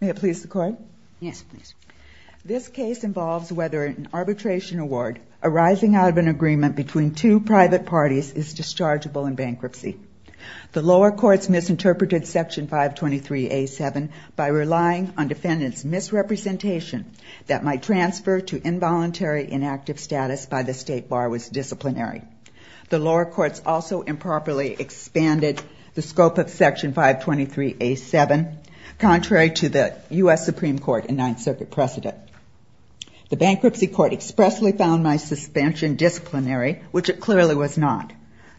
May it please the Court? Yes, please. This case involves whether an arbitration award arising out of an agreement between two private parties is dischargeable in bankruptcy. The lower courts misinterpreted Section 523A7 by relying on defendants' misrepresentation that my transfer to involuntary inactive status by the State Bar was disciplinary. The lower courts also improperly expanded the scope of Section 523A7, contrary to the U.S. Supreme Court and Ninth Circuit precedent. The bankruptcy court expressly found my suspension disciplinary, which it clearly was not.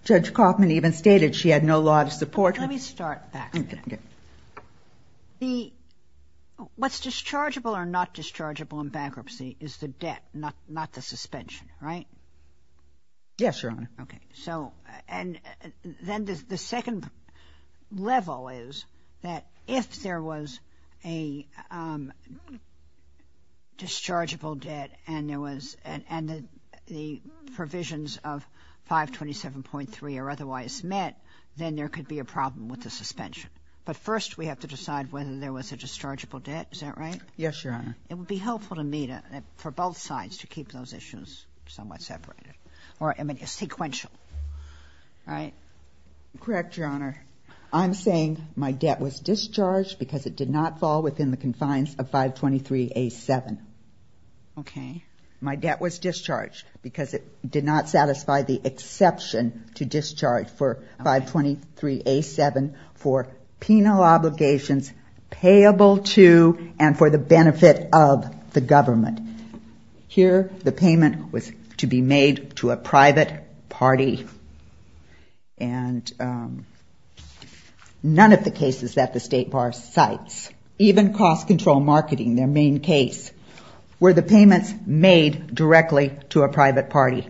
Judge Kaufman even stated she had no law to support. Let me start back. Okay. What's dischargeable or not dischargeable in bankruptcy is the debt, not the suspension, right? Yes, Your Honor. Okay. So and then the second level is that if there was a dischargeable debt and there was and the provisions of 527.3 are otherwise met, then there could be a problem with the suspension. But first we have to decide whether there was a dischargeable debt. Is that right? Yes, Your Honor. It would be helpful to me to for both sides to keep those positions somewhat separated or I mean sequential. All right. Correct, Your Honor. I'm saying my debt was discharged because it did not fall within the confines of 523A7. Okay. My debt was discharged because it did not satisfy the exception to discharge for 523A7 for penal obligations payable to and for the benefit of the government. Here the payment was to be made to a private party and none of the cases that the State Bar cites, even cost control marketing, their main case, were the payments made directly to a private party.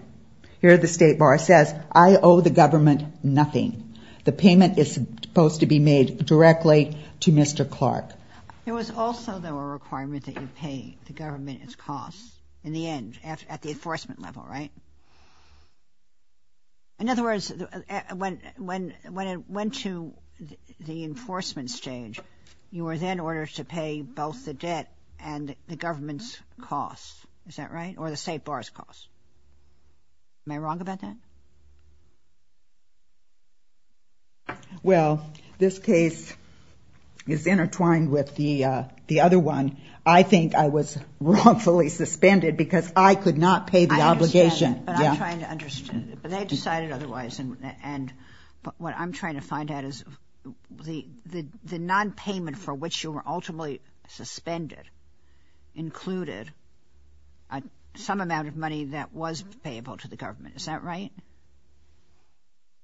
Here the State Bar says, I owe the government nothing. The payment is supposed to be made directly to Mr. Clark. There was also though a requirement that you pay the government its costs in the end at the enforcement level, right? In other words, when it went to the enforcement stage, you were then ordered to pay both the debt and the government's costs. Is that right? Or the State Bar's costs. Am I wrong about that? Well, this case is intertwined with the other one. I think I was wrongfully suspended because I could not pay the obligation. I understand, but I'm trying to understand. But they decided otherwise and what I'm trying to find out is the nonpayment for which you were ultimately suspended included some amount of money that was payable to the government. Is that right?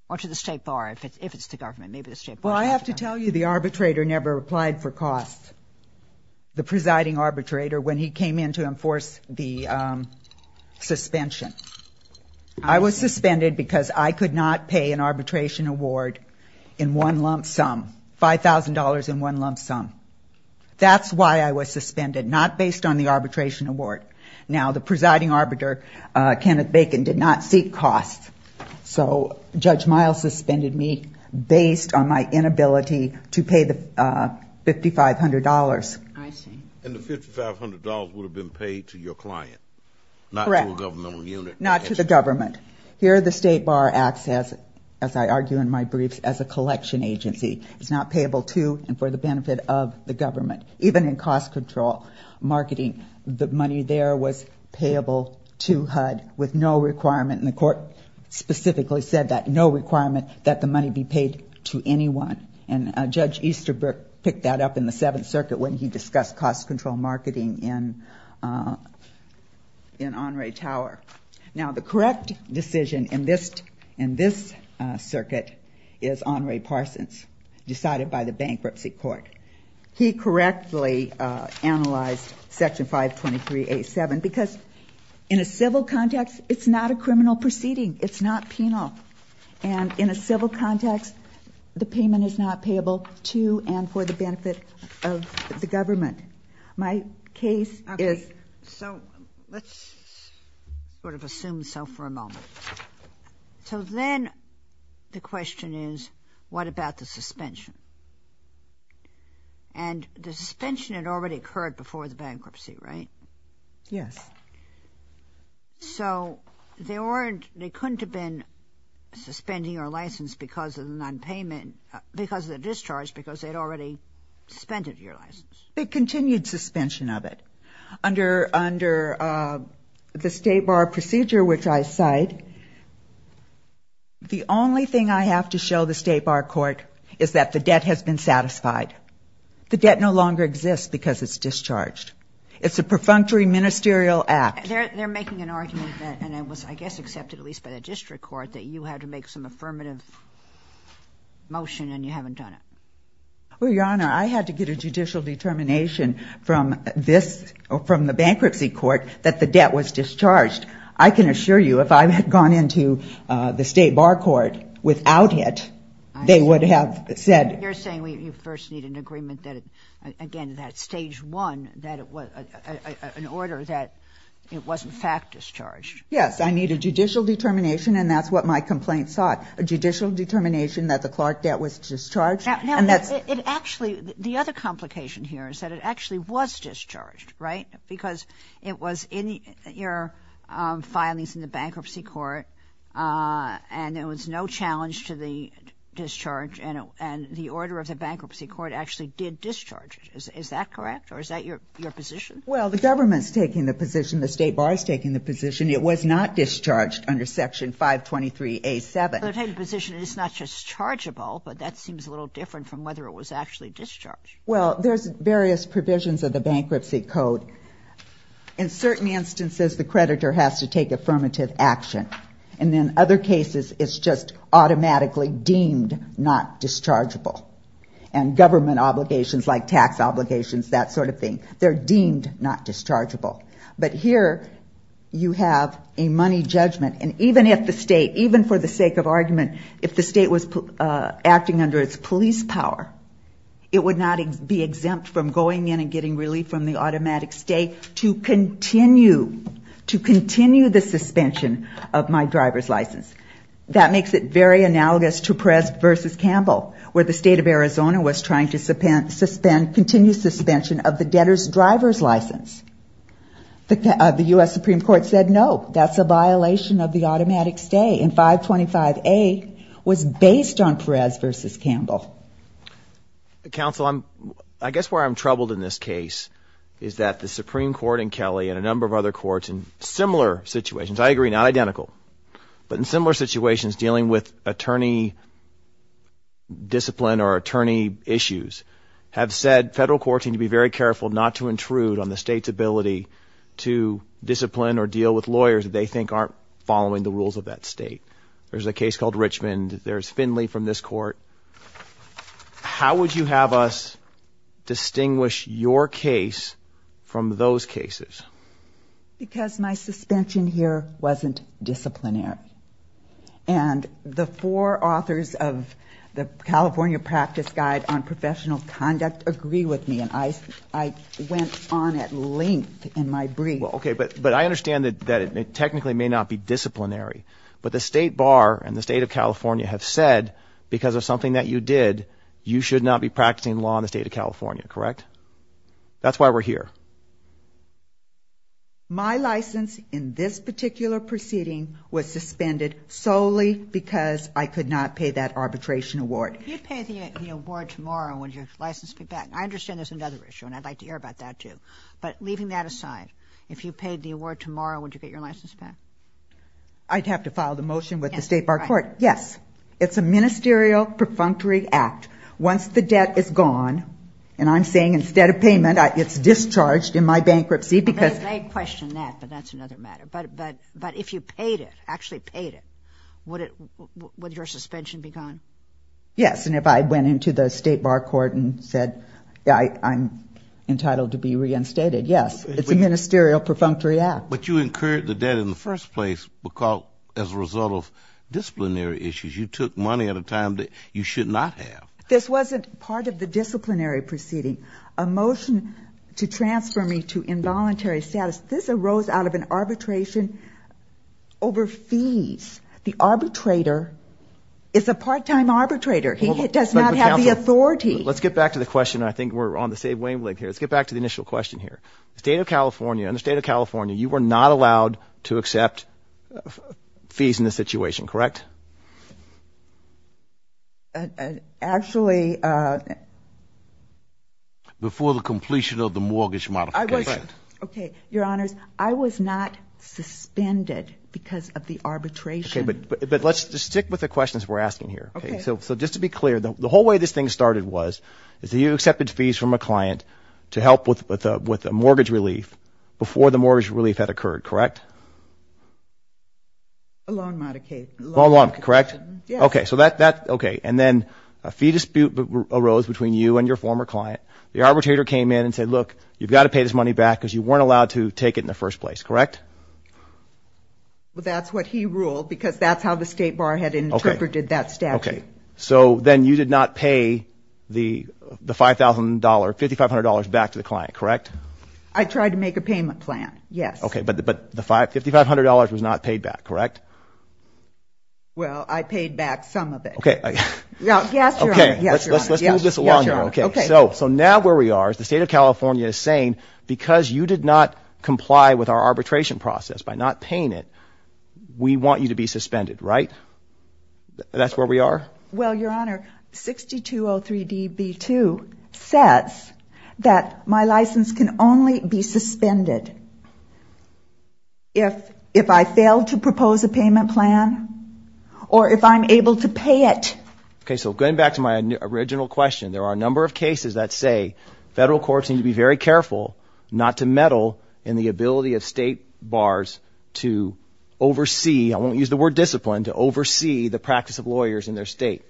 Or to the State Bar, if it's the government, maybe the State Bar. Well, I have to tell you the arbitrator never applied for costs. The presiding arbitrator, when he came in to enforce the suspension, I was in one lump sum, $5,000 in one lump sum. That's why I was suspended, not based on the arbitration award. Now, the presiding arbiter, Kenneth Bacon, did not seek costs. So Judge Miles suspended me based on my inability to pay the $5,500. I see. And the $5,500 would have been paid to your client, not to a governmental unit. Correct. Not to the government. Here, the State Bar acts as, as I argue in my briefs, as a collection agency. It's not payable to and for the benefit of the government. Even in cost control marketing, the money there was payable to HUD with no requirement, and the court specifically said that, no requirement that the money be paid to anyone. And Judge Easterbrook picked that up in the Seventh Circuit when he discussed cost control marketing in, in Honore Tower. Now, the correct decision in this, in this circuit is Honore Parsons, decided by the Bankruptcy Court. He correctly analyzed Section 523A7 because in a civil context, it's not a criminal proceeding. It's not penal. And in a civil context, the payment is not payable to and for the benefit of the government. My case is... Okay. So let's sort of assume so for a moment. So then the question is, what about the suspension? And the suspension had already occurred before the bankruptcy, right? Yes. So they weren't, they couldn't have been suspending your license because of the nonpayment, because of the discharge, because they'd already suspended your license? They continued suspension of it. Under, under the State Bar procedure, which I cite, the only thing I have to show the State Bar Court is that the debt has been satisfied. The debt no ministerial act. They're, they're making an argument that, and it was, I guess, accepted at least by the district court that you had to make some affirmative motion and you haven't done it. Well, Your Honor, I had to get a judicial determination from this, from the Bankruptcy Court that the debt was discharged. I can assure you, if I had gone into the State Bar Court without it, they would have said... You're saying you first need an agreement that, again, that stage one, that it was an order that it was in fact discharged. Yes. I need a judicial determination and that's what my complaint sought. A judicial determination that the Clark debt was discharged. Now, it actually, the other complication here is that it actually was discharged, right? Because it was in your filings in the Bankruptcy Court and there was no challenge to the discharge and the order of the Bankruptcy Court actually did discharge it. Is that correct or is that your, your position? Well, the government's taking the position, the State Bar's taking the position, it was not discharged under Section 523A7. They're taking the position it's not just chargeable, but that seems a little different from whether it was actually discharged. Well, there's various provisions of the Bankruptcy Code. In certain instances, the creditor has to take affirmative action. And in other cases, it's just automatically deemed not dischargeable. And government obligations like tax obligations, that sort of thing, they're deemed not dischargeable. But here you have a money judgment. And even if the state, even for the sake of argument, if the state was acting under its police power, it would not be exempt from going in and getting relief from the automatic stay to continue, to continue the suspension of my driver's license. That makes it very analogous to Perez v. Campbell, where the state of Arizona was trying to suspend, continue suspension of the debtor's driver's license. The U.S. Supreme Court said no, that's a violation of the automatic stay and 525A was based on Perez v. Campbell. Counsel, I'm, I guess where I'm troubled in this case is that the Supreme Court in Kelly and a number of other courts in similar situations, I agree, not identical, but in similar situations dealing with attorney discipline or attorney issues have said federal courts need to be very careful not to intrude on the state's ability to discipline or deal with lawyers that they think aren't following the rules of that state. There's a case called Richmond. There's Finley from this court. How would you have us distinguish your case from those cases? Because my suspension here wasn't disciplinary and the four authors of the California Practice Guide on Professional Conduct agree with me and I, I went on at length in my brief. Well, okay, but, but I understand that, that it technically may not be disciplinary, but the state bar and the state of California have said because of something that you did, you should not be practicing law in the state of California, correct? That's why we're here. My license in this particular proceeding was suspended solely because I could not pay that arbitration award. If you pay the award tomorrow, would your license be back? I understand there's another issue and I'd like to hear about that too, but leaving that aside, if you paid the I'd have to file the motion with the state bar court. Yes. It's a ministerial perfunctory act. Once the debt is gone and I'm saying instead of payment, it's discharged in my bankruptcy because I question that, but that's another matter. But, but, but if you paid it, actually paid it, would it, would your suspension be gone? Yes. And if I went into the state bar court and said, I'm entitled to be reinstated. Yes. It's a ministerial perfunctory act. But you incurred the debt in the first place because as a result of disciplinary issues, you took money at a time that you should not have. This wasn't part of the disciplinary proceeding, a motion to transfer me to involuntary status. This arose out of an arbitration over fees. The arbitrator is a part-time arbitrator. He does not have the authority. Let's get back to the question. I think we're on the same wavelength here. Let's get back to the not allowed to accept fees in this situation, correct? Actually, before the completion of the mortgage modification. Okay. Your honors, I was not suspended because of the arbitration. But let's just stick with the questions we're asking here. Okay. So, so just to be clear, the whole way this thing started was, is that you accepted fees from a client to help with, with a mortgage relief before the mortgage relief had occurred, correct? A loan modification. A loan modification, correct? Okay. So that, that, okay. And then a fee dispute arose between you and your former client. The arbitrator came in and said, look, you've got to pay this money back because you weren't allowed to take it in the first place, correct? Well, that's what he ruled because that's how the state bar had interpreted that statute. So then you did not pay the, the $5,000, $5,500 back to the client, correct? I tried to make a payment plan. Yes. Okay. But, but the five, $5,500 was not paid back, correct? Well, I paid back some of it. Okay. Okay. Let's, let's, let's move this along here. Okay. So, so now where we are is the state of California is saying, because you did not comply with our Well, Your Honor, 6203db2 says that my license can only be suspended if, if I fail to propose a payment plan or if I'm able to pay it. Okay. So going back to my original question, there are a number of cases that say federal courts need to be very careful not to meddle in the ability of state bars to oversee. I won't use the word discipline to oversee the practice of lawyers in their state.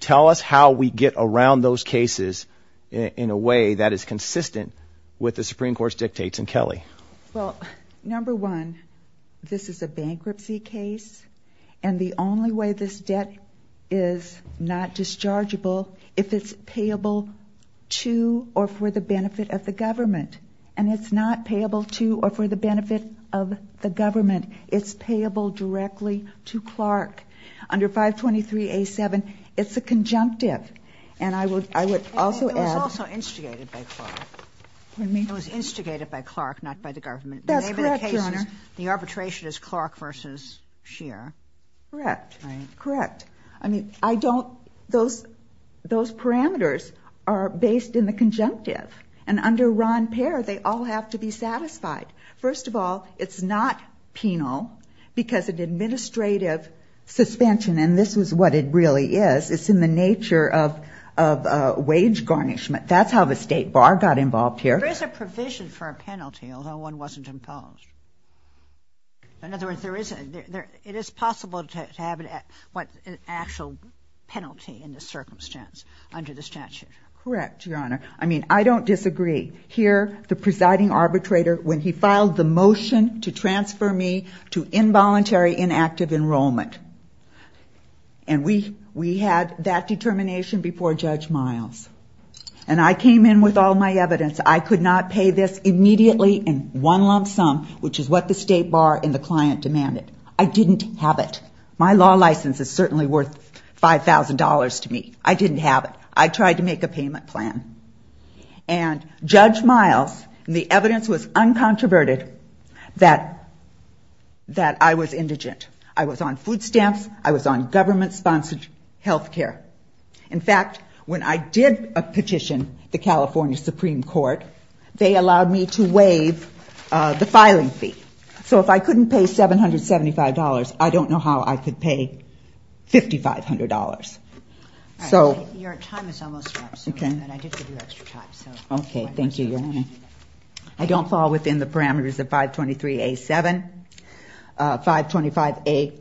Tell us how we get around those cases in a way that is consistent with the Supreme Court's dictates and Kelly. Well, number one, this is a bankruptcy case and the only way this debt is not dischargeable if it's payable to or for the benefit of the government and it's not payable to or for the under 523A7, it's a conjunctive and I would, I would also add. And it was also instigated by Clark. Pardon me? It was instigated by Clark, not by the government. That's correct, Your Honor. The arbitration is Clark versus Scheer. Correct. Correct. I mean, I don't, those, those parameters are based in the conjunctive and under Ron Pair, they all have to be satisfied. First of all, it's not penal because an administrative suspension, and this was what it really is, it's in the nature of, of a wage garnishment. That's how the state bar got involved here. There is a provision for a penalty, although one wasn't imposed. In other words, there is, it is possible to have an actual penalty in this circumstance under the statute. Correct, Your Honor. I mean, I don't disagree. Here, the presiding arbitrator, when he filed the motion to transfer me to involuntary inactive enrollment. And we, we had that determination before Judge Miles. And I came in with all my evidence. I could not pay this immediately in one lump sum, which is what the state bar and the client demanded. I didn't have it. My law license is certainly worth $5,000 to me. I didn't have it. I tried to make a payment plan. And Judge Miles, the evidence was uncontroverted that, that I was indigent. I was on food stamps. I was on government sponsored health care. In fact, when I did a petition, the California Supreme Court, they allowed me to waive the filing fee. So if I couldn't pay $775, I don't know how I could pay $5,500. All right. Your time is almost up. Okay. And I did give you extra time, so. Okay. Thank you, Your Honor. I don't fall within the parameters of 523A-7. 525A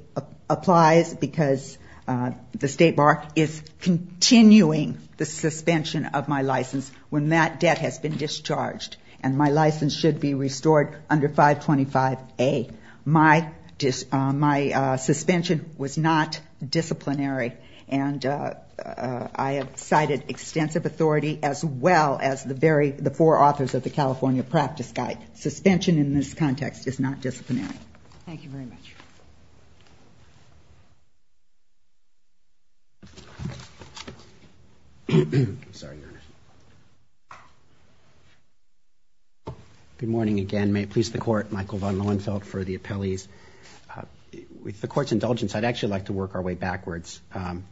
applies because the state bar is continuing the suspension of my license when that debt has been discharged and my license should be restored under 525A. My suspension was not disciplinary. And I have cited extensive authority as well as the very, the four authors of the California Practice Guide. Suspension in this context is not disciplinary. Thank you very much. Good morning again. May it please the Court, Michael von Lohenfeld for the appellees. With the Court's indulgence, I'd actually like to work our way backwards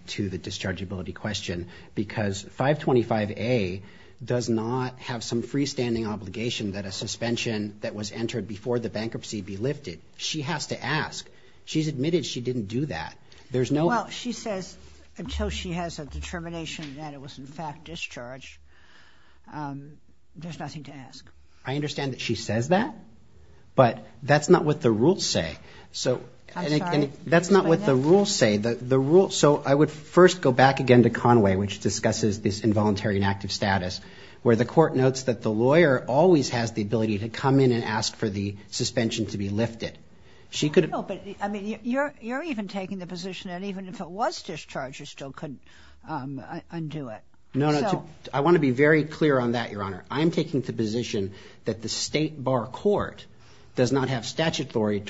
to the dischargeability question. Because 525A does not have some freestanding obligation that a suspension that was entered before the bankruptcy be lifted. She has to ask. She's admitted she didn't do that. There's no- Well, she says until she has a determination that it was in fact discharged. There's nothing to ask. I understand that she says that. But that's not what the rules say. So- I'm sorry. That's not what the rules say. So I would first go back again to Conway, which discusses this involuntary inactive status, where the Court notes that the lawyer always has the ability to come in and ask for the suspension to be lifted. She could- No, but I mean, you're even taking the position that even if it was discharged, you still couldn't undo it. No, no. I want to be very clear on that, Your Honor. I'm taking the position that the State Bar Court does not have statutory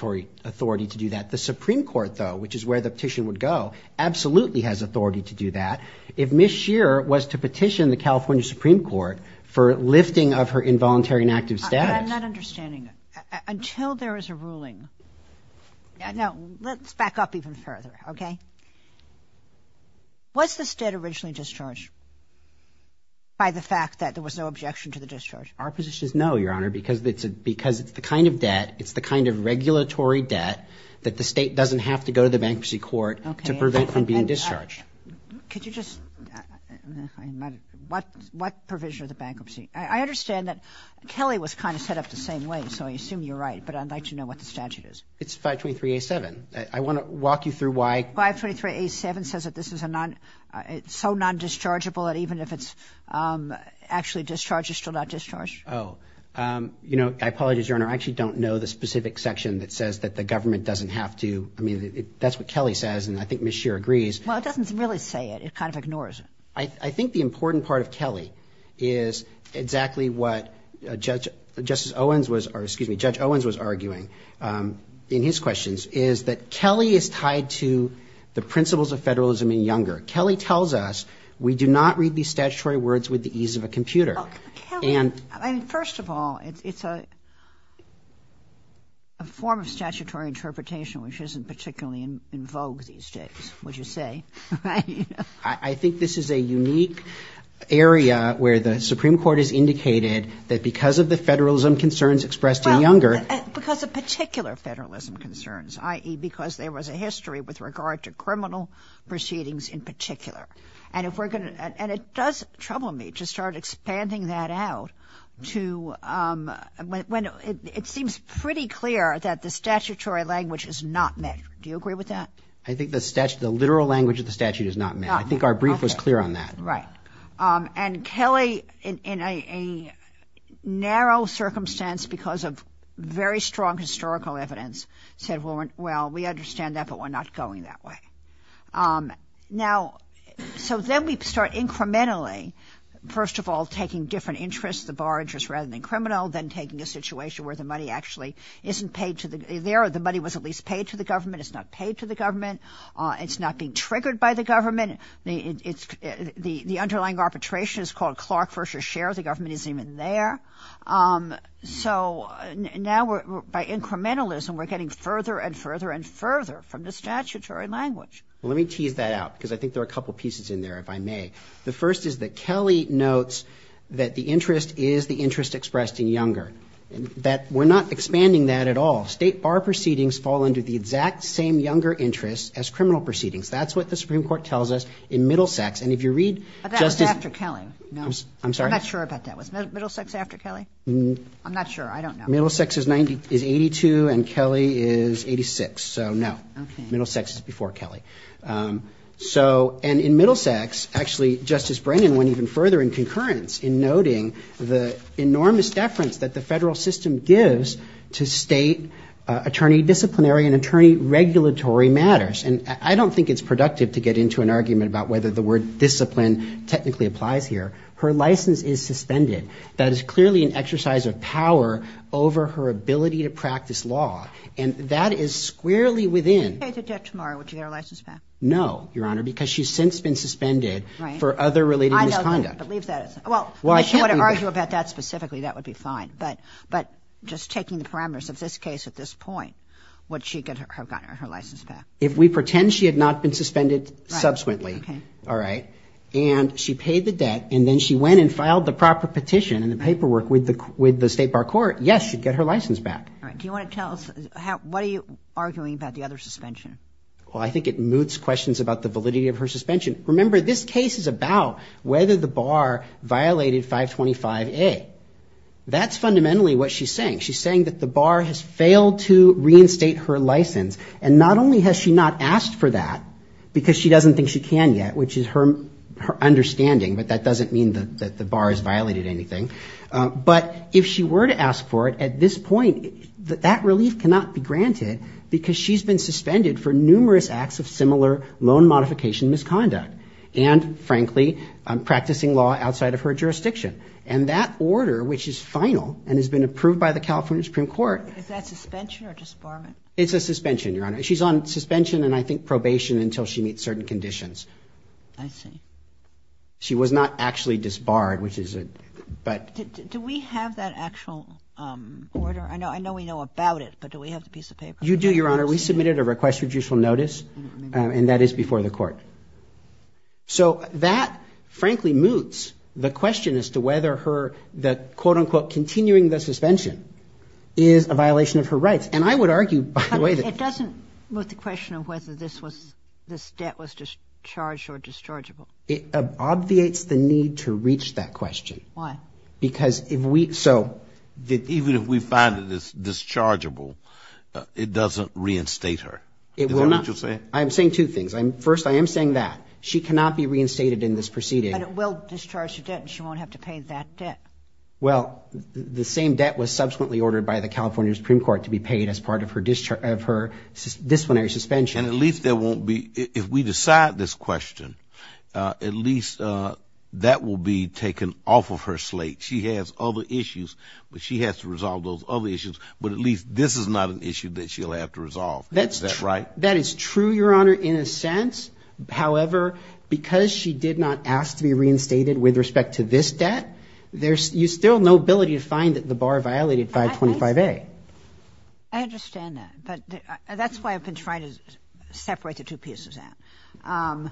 authority to do that. The Supreme Court, though, which is where the petition would go, absolutely has authority to do that. If Ms. Shearer was to petition the California Supreme Court for lifting of her involuntary inactive status- I'm not understanding. Until there is a ruling- No, let's back up even further, okay? Was the state originally discharged by the fact that there was no objection to the discharge? Our position is no, Your Honor, because it's the kind of debt, it's the kind of regulatory debt that the state doesn't have to go to the bankruptcy court to prevent from being discharged. Could you just- What provision of the bankruptcy? I understand that Kelly was kind of set up the same way, so I assume you're right, but I'd like to know what the statute is. It's 523-A-7. I want to walk you through why- 523-A-7 says that this is so non-dischargeable that even if it's actually discharged, it's still not discharged. Oh, you know, I apologize, Your Honor. I actually don't know the specific section that says that the government doesn't have to- I mean, that's what Kelly says, and I think Ms. Shearer agrees. Well, it doesn't really say it. It kind of ignores it. I think the important part of Kelly is exactly what Justice Owens was- or excuse me, Judge Owens was arguing in his questions, is that Kelly is tied to the principles of federalism and Younger. Kelly tells us we do not read these statutory words with the ease of a computer. Well, Kelly, first of all, it's a form of statutory interpretation which isn't particularly in vogue these days, would you say? I think this is a unique area where the Supreme Court has indicated that because of the federalism concerns expressed in Younger- Because of particular federalism concerns, i.e. because there was a history with regard to criminal proceedings in particular. And if we're going to- and it does trouble me to start expanding that out to when it seems pretty clear that the statutory language is not met. Do you agree with that? I think the literal language of the statute is not met. I think our brief was clear on that. Right. And Kelly, in a narrow circumstance because of very strong historical evidence, said, well, we understand that, but we're not going that way. Now, so then we start incrementally, first of all, taking different interests, the bar interest rather than criminal, then taking a situation where the money actually isn't paid to the- the money was at least paid to the government. It's not paid to the government. It's not being triggered by the government. The underlying arbitration is called Clark versus Sherr. The government isn't even there. So now by incrementalism, we're getting further and further and further from the statutory language. Well, let me tease that out because I think there are a couple of pieces in there, if I may. The first is that Kelly notes that the interest is the interest expressed in Younger. That we're not expanding that at all. State bar proceedings fall under the exact same Younger interest as criminal proceedings. That's what the Supreme Court tells us in Middlesex. And if you read- But that was after Kelly. No. I'm sorry. I'm not sure about that. Was Middlesex after Kelly? I'm not sure. I don't know. Middlesex is 82 and Kelly is 86. So no. Middlesex is before Kelly. So and in Middlesex, actually, Justice Brennan went even further in concurrence in noting the enormous deference that the federal system gives to state attorney disciplinary and attorney regulatory matters. And I don't think it's productive to get into an argument about whether the word discipline technically applies here. Her license is suspended. That is clearly an exercise of power over her ability to practice law. And that is squarely within- If she paid the debt tomorrow, would she get her license back? No, Your Honor, because she's since been suspended for other related misconduct. I don't believe that. Well, if you want to argue about that specifically, that would be fine. But just taking the parameters of this case at this point, would she get her license back? If we pretend she had not been suspended subsequently, all right, and she paid the debt and then she went and filed the proper petition and the paperwork with the State Bar Court, yes, she'd get her license back. All right. Do you want to tell us what are you arguing about the other suspension? Well, I think it moots questions about the validity of her suspension. Remember, this case is about whether the bar violated 525A. That's fundamentally what she's saying. She's saying that the bar has failed to reinstate her license. And not only has she not asked for that because she doesn't think she can yet, which is her understanding, but that doesn't mean that the bar has violated anything. But if she were to ask for it at this point, that relief cannot be granted because she's been suspended for numerous acts of similar loan modification misconduct and, frankly, practicing law outside of her jurisdiction. And that order, which is final and has been approved by the California Supreme Court. Is that suspension or disbarment? It's a suspension, Your Honor. She's on suspension and I think probation until she meets certain conditions. I see. She was not actually disbarred, which is a, but. Do we have that actual order? I know we know about it, but do we have the piece of paper? You do, Your Honor. We submitted a request for judicial notice, and that is before the court. So that, frankly, moots the question as to whether her, the quote, unquote, continuing the suspension is a violation of her rights. And I would argue, by the way. It doesn't moot the question of whether this was, this debt was just charged or dischargeable. It obviates the need to reach that question. Why? Because if we. So. Even if we find it is dischargeable, it doesn't reinstate her. It will not. I'm saying two things. First, I am saying that she cannot be reinstated in this proceeding. And it will discharge her debt and she won't have to pay that debt. Well, the same debt was subsequently ordered by the California Supreme Court to be paid as part of her disciplinary suspension. And at least there won't be, if we decide this question, at least that will be taken off of her slate. She has other issues, but she has to resolve those other issues. But at least this is not an issue that she'll have to resolve. That's right. That is true, Your Honor, in a sense. However, because she did not ask to be reinstated with respect to this debt, you still have no ability to find that the bar violated 525A. I understand that. But that's why I've been trying to separate the two pieces out.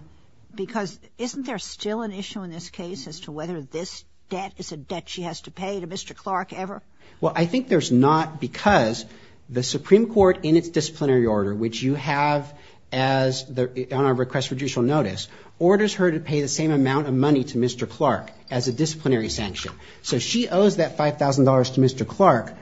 Because isn't there still an issue in this case as to whether this is a debt she has to pay to Mr. Clark ever? Well, I think there's not because the Supreme Court in its disciplinary order, which you have on our request for judicial notice, orders her to pay the same amount of money to Mr. Clark as a disciplinary sanction. So she owes that $5,000 to Mr. Clark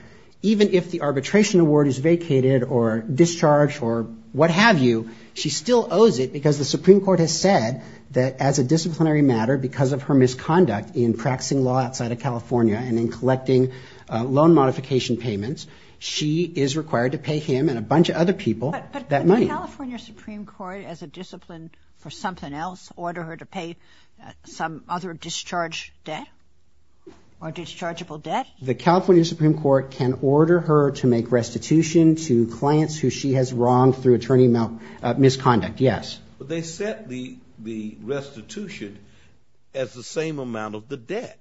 even if the arbitration award is vacated or discharged or what have you. She still owes it because the Supreme Court has said that as a disciplinary matter because of her misconduct in practicing law outside of California and in collecting loan modification payments, she is required to pay him and a bunch of other people that money. But could the California Supreme Court, as a discipline for something else, order her to pay some other discharge debt or dischargeable debt? The California Supreme Court can order her to make restitution to clients who she has wronged through attorney misconduct, yes. But they set the restitution as the same amount of the debt.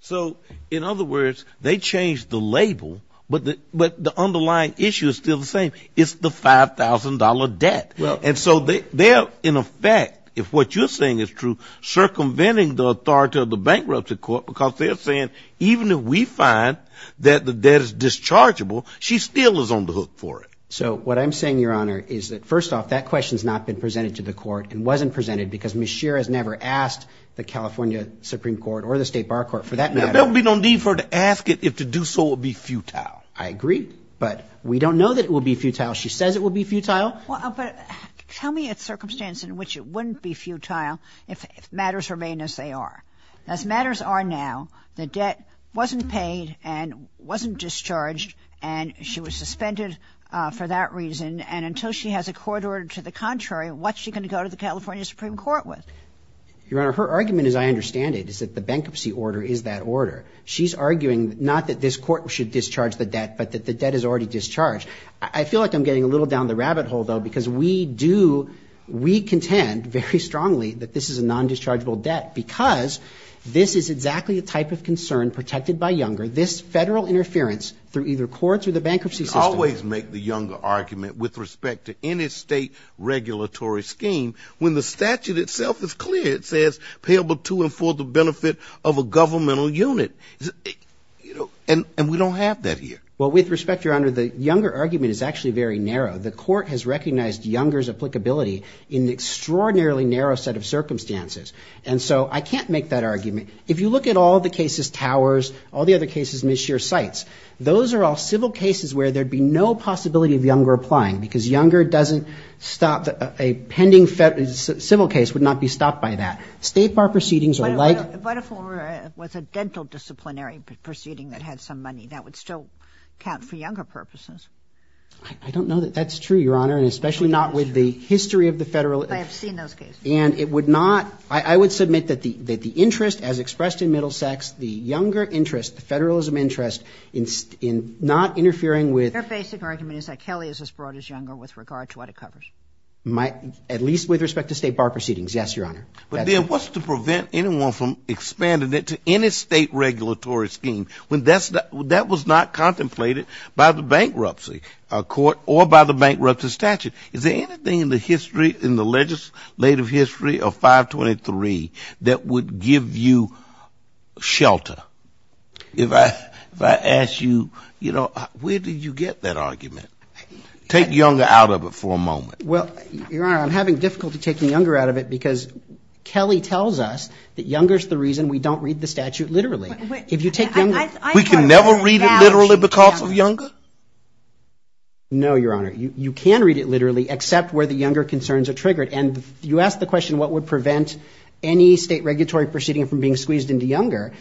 So in other words, they changed the label, but the underlying issue is still the same. It's the $5,000 debt. And so they're, in effect, if what you're saying is true, circumventing the authority of the bankruptcy court because they're saying even if we find that the debt is dischargeable, she still is on the hook for it. So what I'm saying, Your Honor, is that first off, that question's not been presented to the court and wasn't presented because Ms. Shearer has never asked the California Supreme Court or the state bar court for that matter. There'll be no need for her to ask it if to do so would be futile. I agree. But we don't know that it will be futile. She says it will be futile. But tell me a circumstance in which it wouldn't be futile if matters remain as they are. As matters are now, the debt wasn't paid and wasn't discharged, and she was suspended for that reason. And until she has a court order to the contrary, what's she going to go to the California Supreme Court with? Your Honor, her argument, as I understand it, is that the bankruptcy order is that order. She's arguing not that this court should discharge the debt, but that the debt is already discharged. I feel like I'm getting a little down the rabbit hole, though, because we do, we contend very strongly that this is a non-dischargeable debt because this is exactly the type of concern protected by Younger, this federal interference through either courts or the bankruptcy system. But you always make the Younger argument with respect to any state regulatory scheme when the statute itself is clear. It says payable to and for the benefit of a governmental unit. And we don't have that here. Well, with respect, Your Honor, the Younger argument is actually very narrow. The court has recognized Younger's applicability in an extraordinarily narrow set of circumstances. And so I can't make that argument. If you look at all the cases, Towers, all the other cases, Ms. Scheer cites, those are all civil cases where there would be no possibility of Younger applying, because Younger doesn't stop, a pending civil case would not be stopped by that. State bar proceedings are like What if it was a dental disciplinary proceeding that had some money? That would still count for Younger purposes. I don't know that that's true, Your Honor, and especially not with the history of the federal I have seen those cases. And it would not, I would submit that the interest as expressed in Middlesex, the Younger interest, the federalism interest in not interfering with Their basic argument is that Kelly is as broad as Younger with regard to what it covers. My, at least with respect to state bar proceedings, yes, Your Honor. But there was to prevent anyone from expanding it to any state regulatory scheme when that was not contemplated by the bankruptcy court or by the bankruptcy statute. Is there anything in the history, in the legislative history of 523 that would give you shelter? If I, if I ask you, you know, where did you get that argument? Take Younger out of it for a moment. Well, Your Honor, I'm having difficulty taking Younger out of it because Kelly tells us that Younger is the reason we don't read the statute literally. If you take Younger. We can never read it literally because of Younger? No, Your Honor. You can read it literally, except where the Younger concerns are triggered. And you asked the question, what would prevent any state regulatory proceeding from being squeezed into Younger?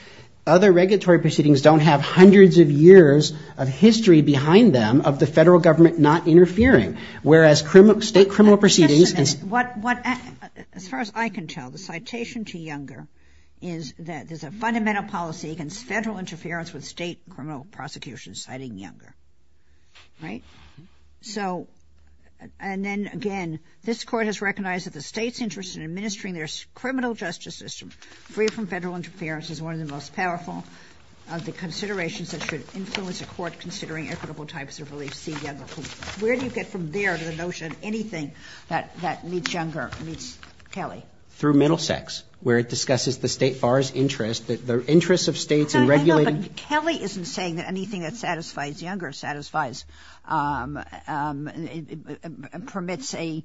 Other regulatory proceedings don't have hundreds of years of history behind them of the federal government not interfering. Whereas state criminal proceedings. As far as I can tell, the citation to Younger is that there's a fundamental policy against federal interference with state criminal prosecution, citing Younger. Right. So, and then again, this Court has recognized that the state's interest in administering their criminal justice system free from federal interference is one of the most powerful of the considerations that should influence a court considering equitable types of reliefs see Younger. Where do you get from there to the notion of anything that meets Younger meets Kelly? Through Middlesex, where it discusses the state bar's interest that the interests of states in regulating. Kelly isn't saying that anything that satisfies Younger satisfies, permits a,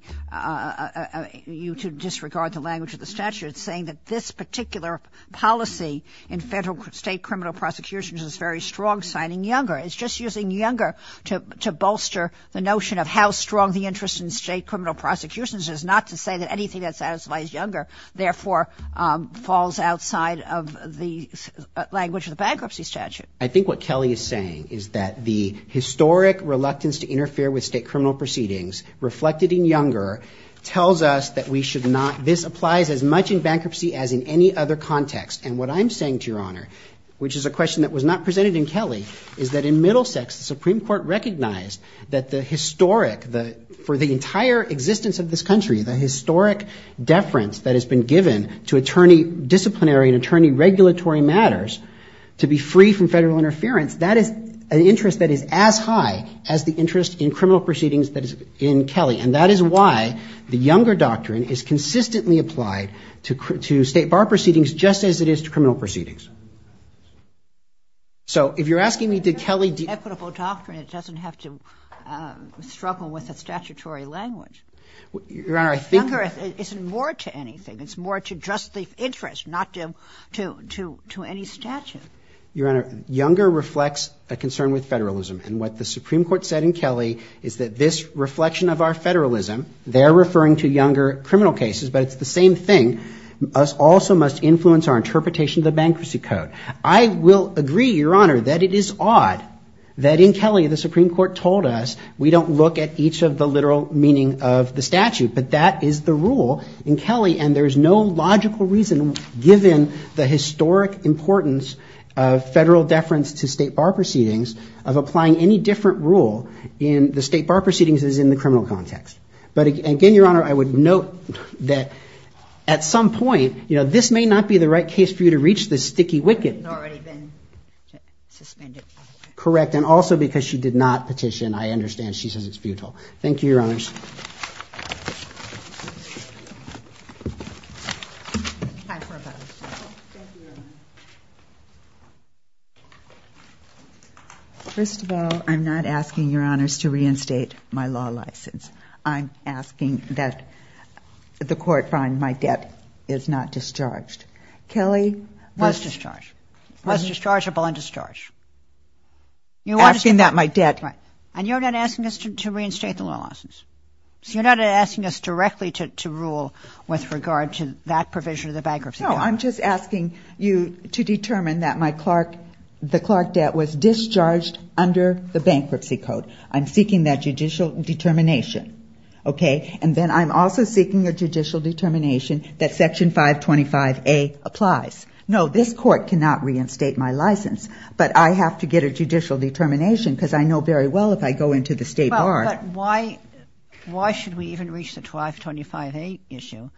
you to disregard the language of the statute, saying that this particular policy in federal state criminal prosecutions is very strong, signing Younger. It's just using Younger to bolster the notion of how strong the interest in state criminal prosecutions is not to say that anything that satisfies Younger, therefore, falls outside of the language of the bankruptcy statute. I think what Kelly is saying is that the historic reluctance to interfere with state criminal proceedings reflected in Younger tells us that we should not, this applies as much in bankruptcy as in any other context. And what I'm saying to your honor, which is a question that was not presented in Kelly, is that in Middlesex, the Supreme Court recognized that the historic, the, for the entire existence of this country, the historic deference that has been given to attorney, disciplinary and attorney regulatory matters to be free from federal interference, that is an interest that is as high as the interest in criminal proceedings that is in Kelly. And that is why the Younger doctrine is consistently applied to, to state bar proceedings just as it is to criminal proceedings. So if you're asking me, did Kelly, equitable doctrine, it doesn't have to struggle with a statutory language. Your honor, I think, Younger isn't more to anything. It's more to just the interest, not to, to, to, to any statute. Your honor, Younger reflects a concern with federalism. And what the Supreme Court said in Kelly is that this reflection of our federalism, they're referring to Younger criminal cases, but it's the same thing. Us also must influence our interpretation of the Bankruptcy Code. I will agree, your honor, that it is odd that in Kelly the Supreme Court told us we don't look at each of the literal meaning of the statute, but that is the rule in Kelly and there's no logical reason given the historic importance of federal deference to state bar proceedings of applying any different rule in the state bar proceedings as in the criminal context. But again, your honor, I would note that at some point, you know, this may not be the right case for you to reach the sticky wicket. It's already been suspended. Correct. And also because she did not petition, I understand she says it's futile. Thank you, your honors. Time for a bonus question. Thank you, your honor. First of all, I'm not asking your honors to reinstate my law license. I'm asking that the court find my debt is not discharged. Kelly was discharged. Was dischargeable and discharged. You're asking that my debt. Right. And you're not asking us to reinstate the law license. So you're not asking us directly to rule with regard to that provision of the bankruptcy. No, I'm just asking you to determine that my Clark, the Clark debt was discharged under the bankruptcy code. I'm seeking that judicial determination. Okay. And then I'm also seeking a judicial determination that section 525A applies. No, this court cannot reinstate my license, but I have to get a judicial determination because I know very well if I go into the state bar. Why, why should we even reach the 525A issue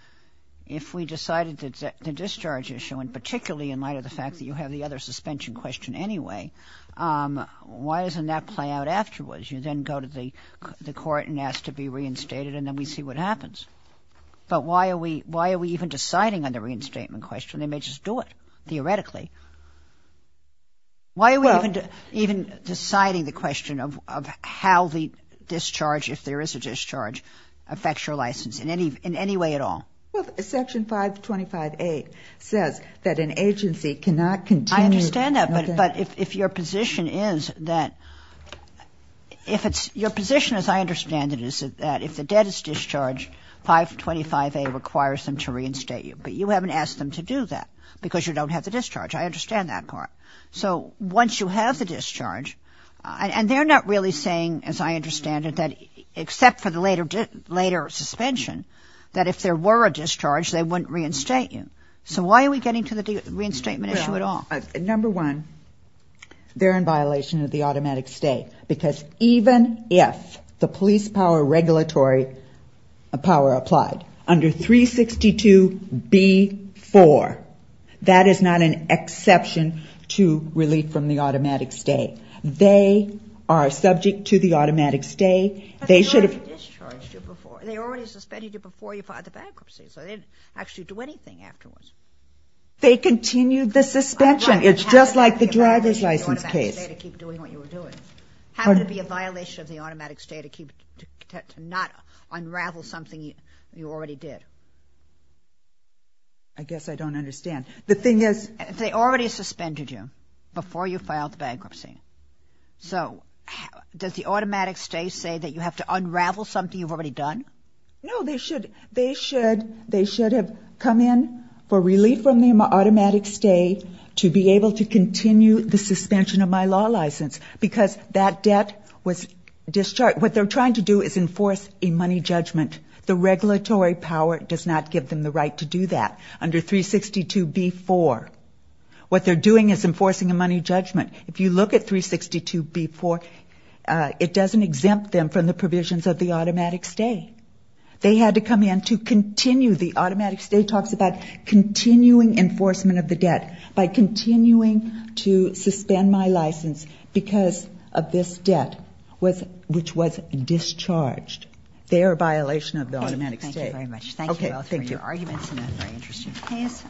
if we decided that the discharge issue and particularly in light of the fact that you have the other suspension question anyway, why doesn't that play out afterwards? You then go to the court and ask to be reinstated and then we see what happens. But why are we, why are we even deciding on the reinstatement question? They may just do it theoretically. Why are we even deciding the question of how the discharge, if there is a discharge, affects your license in any, in any way at all? Well, section 525A says that an agency cannot continue. I understand that, but if your position is that if it's your position, as I understand it, is that if the debt is discharged, 525A requires them to reinstate you, but you haven't asked them to do that because you don't have the discharge. I understand that part. So once you have the discharge, and they're not really saying, as I understand it, that except for the later, later suspension, that if there were a discharge, they wouldn't reinstate you. So why are we getting to the reinstatement issue at all? Number one, they're in violation of the automatic stay because even if the police power regulatory power applied, under 362B-4, that is not an exception to relief from the automatic stay. They are subject to the automatic stay. They should have discharged you before. They already suspended you before you filed the bankruptcy, so they didn't actually do anything afterwards. They continued the suspension. It's just like the driver's license case. I guess I don't understand. The thing is, they already suspended you before you filed the bankruptcy, so does the automatic stay say that you have to unravel something you've already done? No, they should have come in for relief from the automatic stay to be able to continue the suspension of my law license because that debt was discharged. What they're trying to do is enforce a money judgment. The regulatory power does not give them the right to do that. Under 362B-4, what they're doing is enforcing a money judgment. If you look at 362B-4, it doesn't exempt them from the provisions of the automatic stay. They had to come in to continue. The automatic stay talks about continuing enforcement of the debt by continuing to suspend my license because of this debt, which was discharged. They are a violation of the automatic stay. Thank you very much. Thank you both for your arguments in a very interesting case.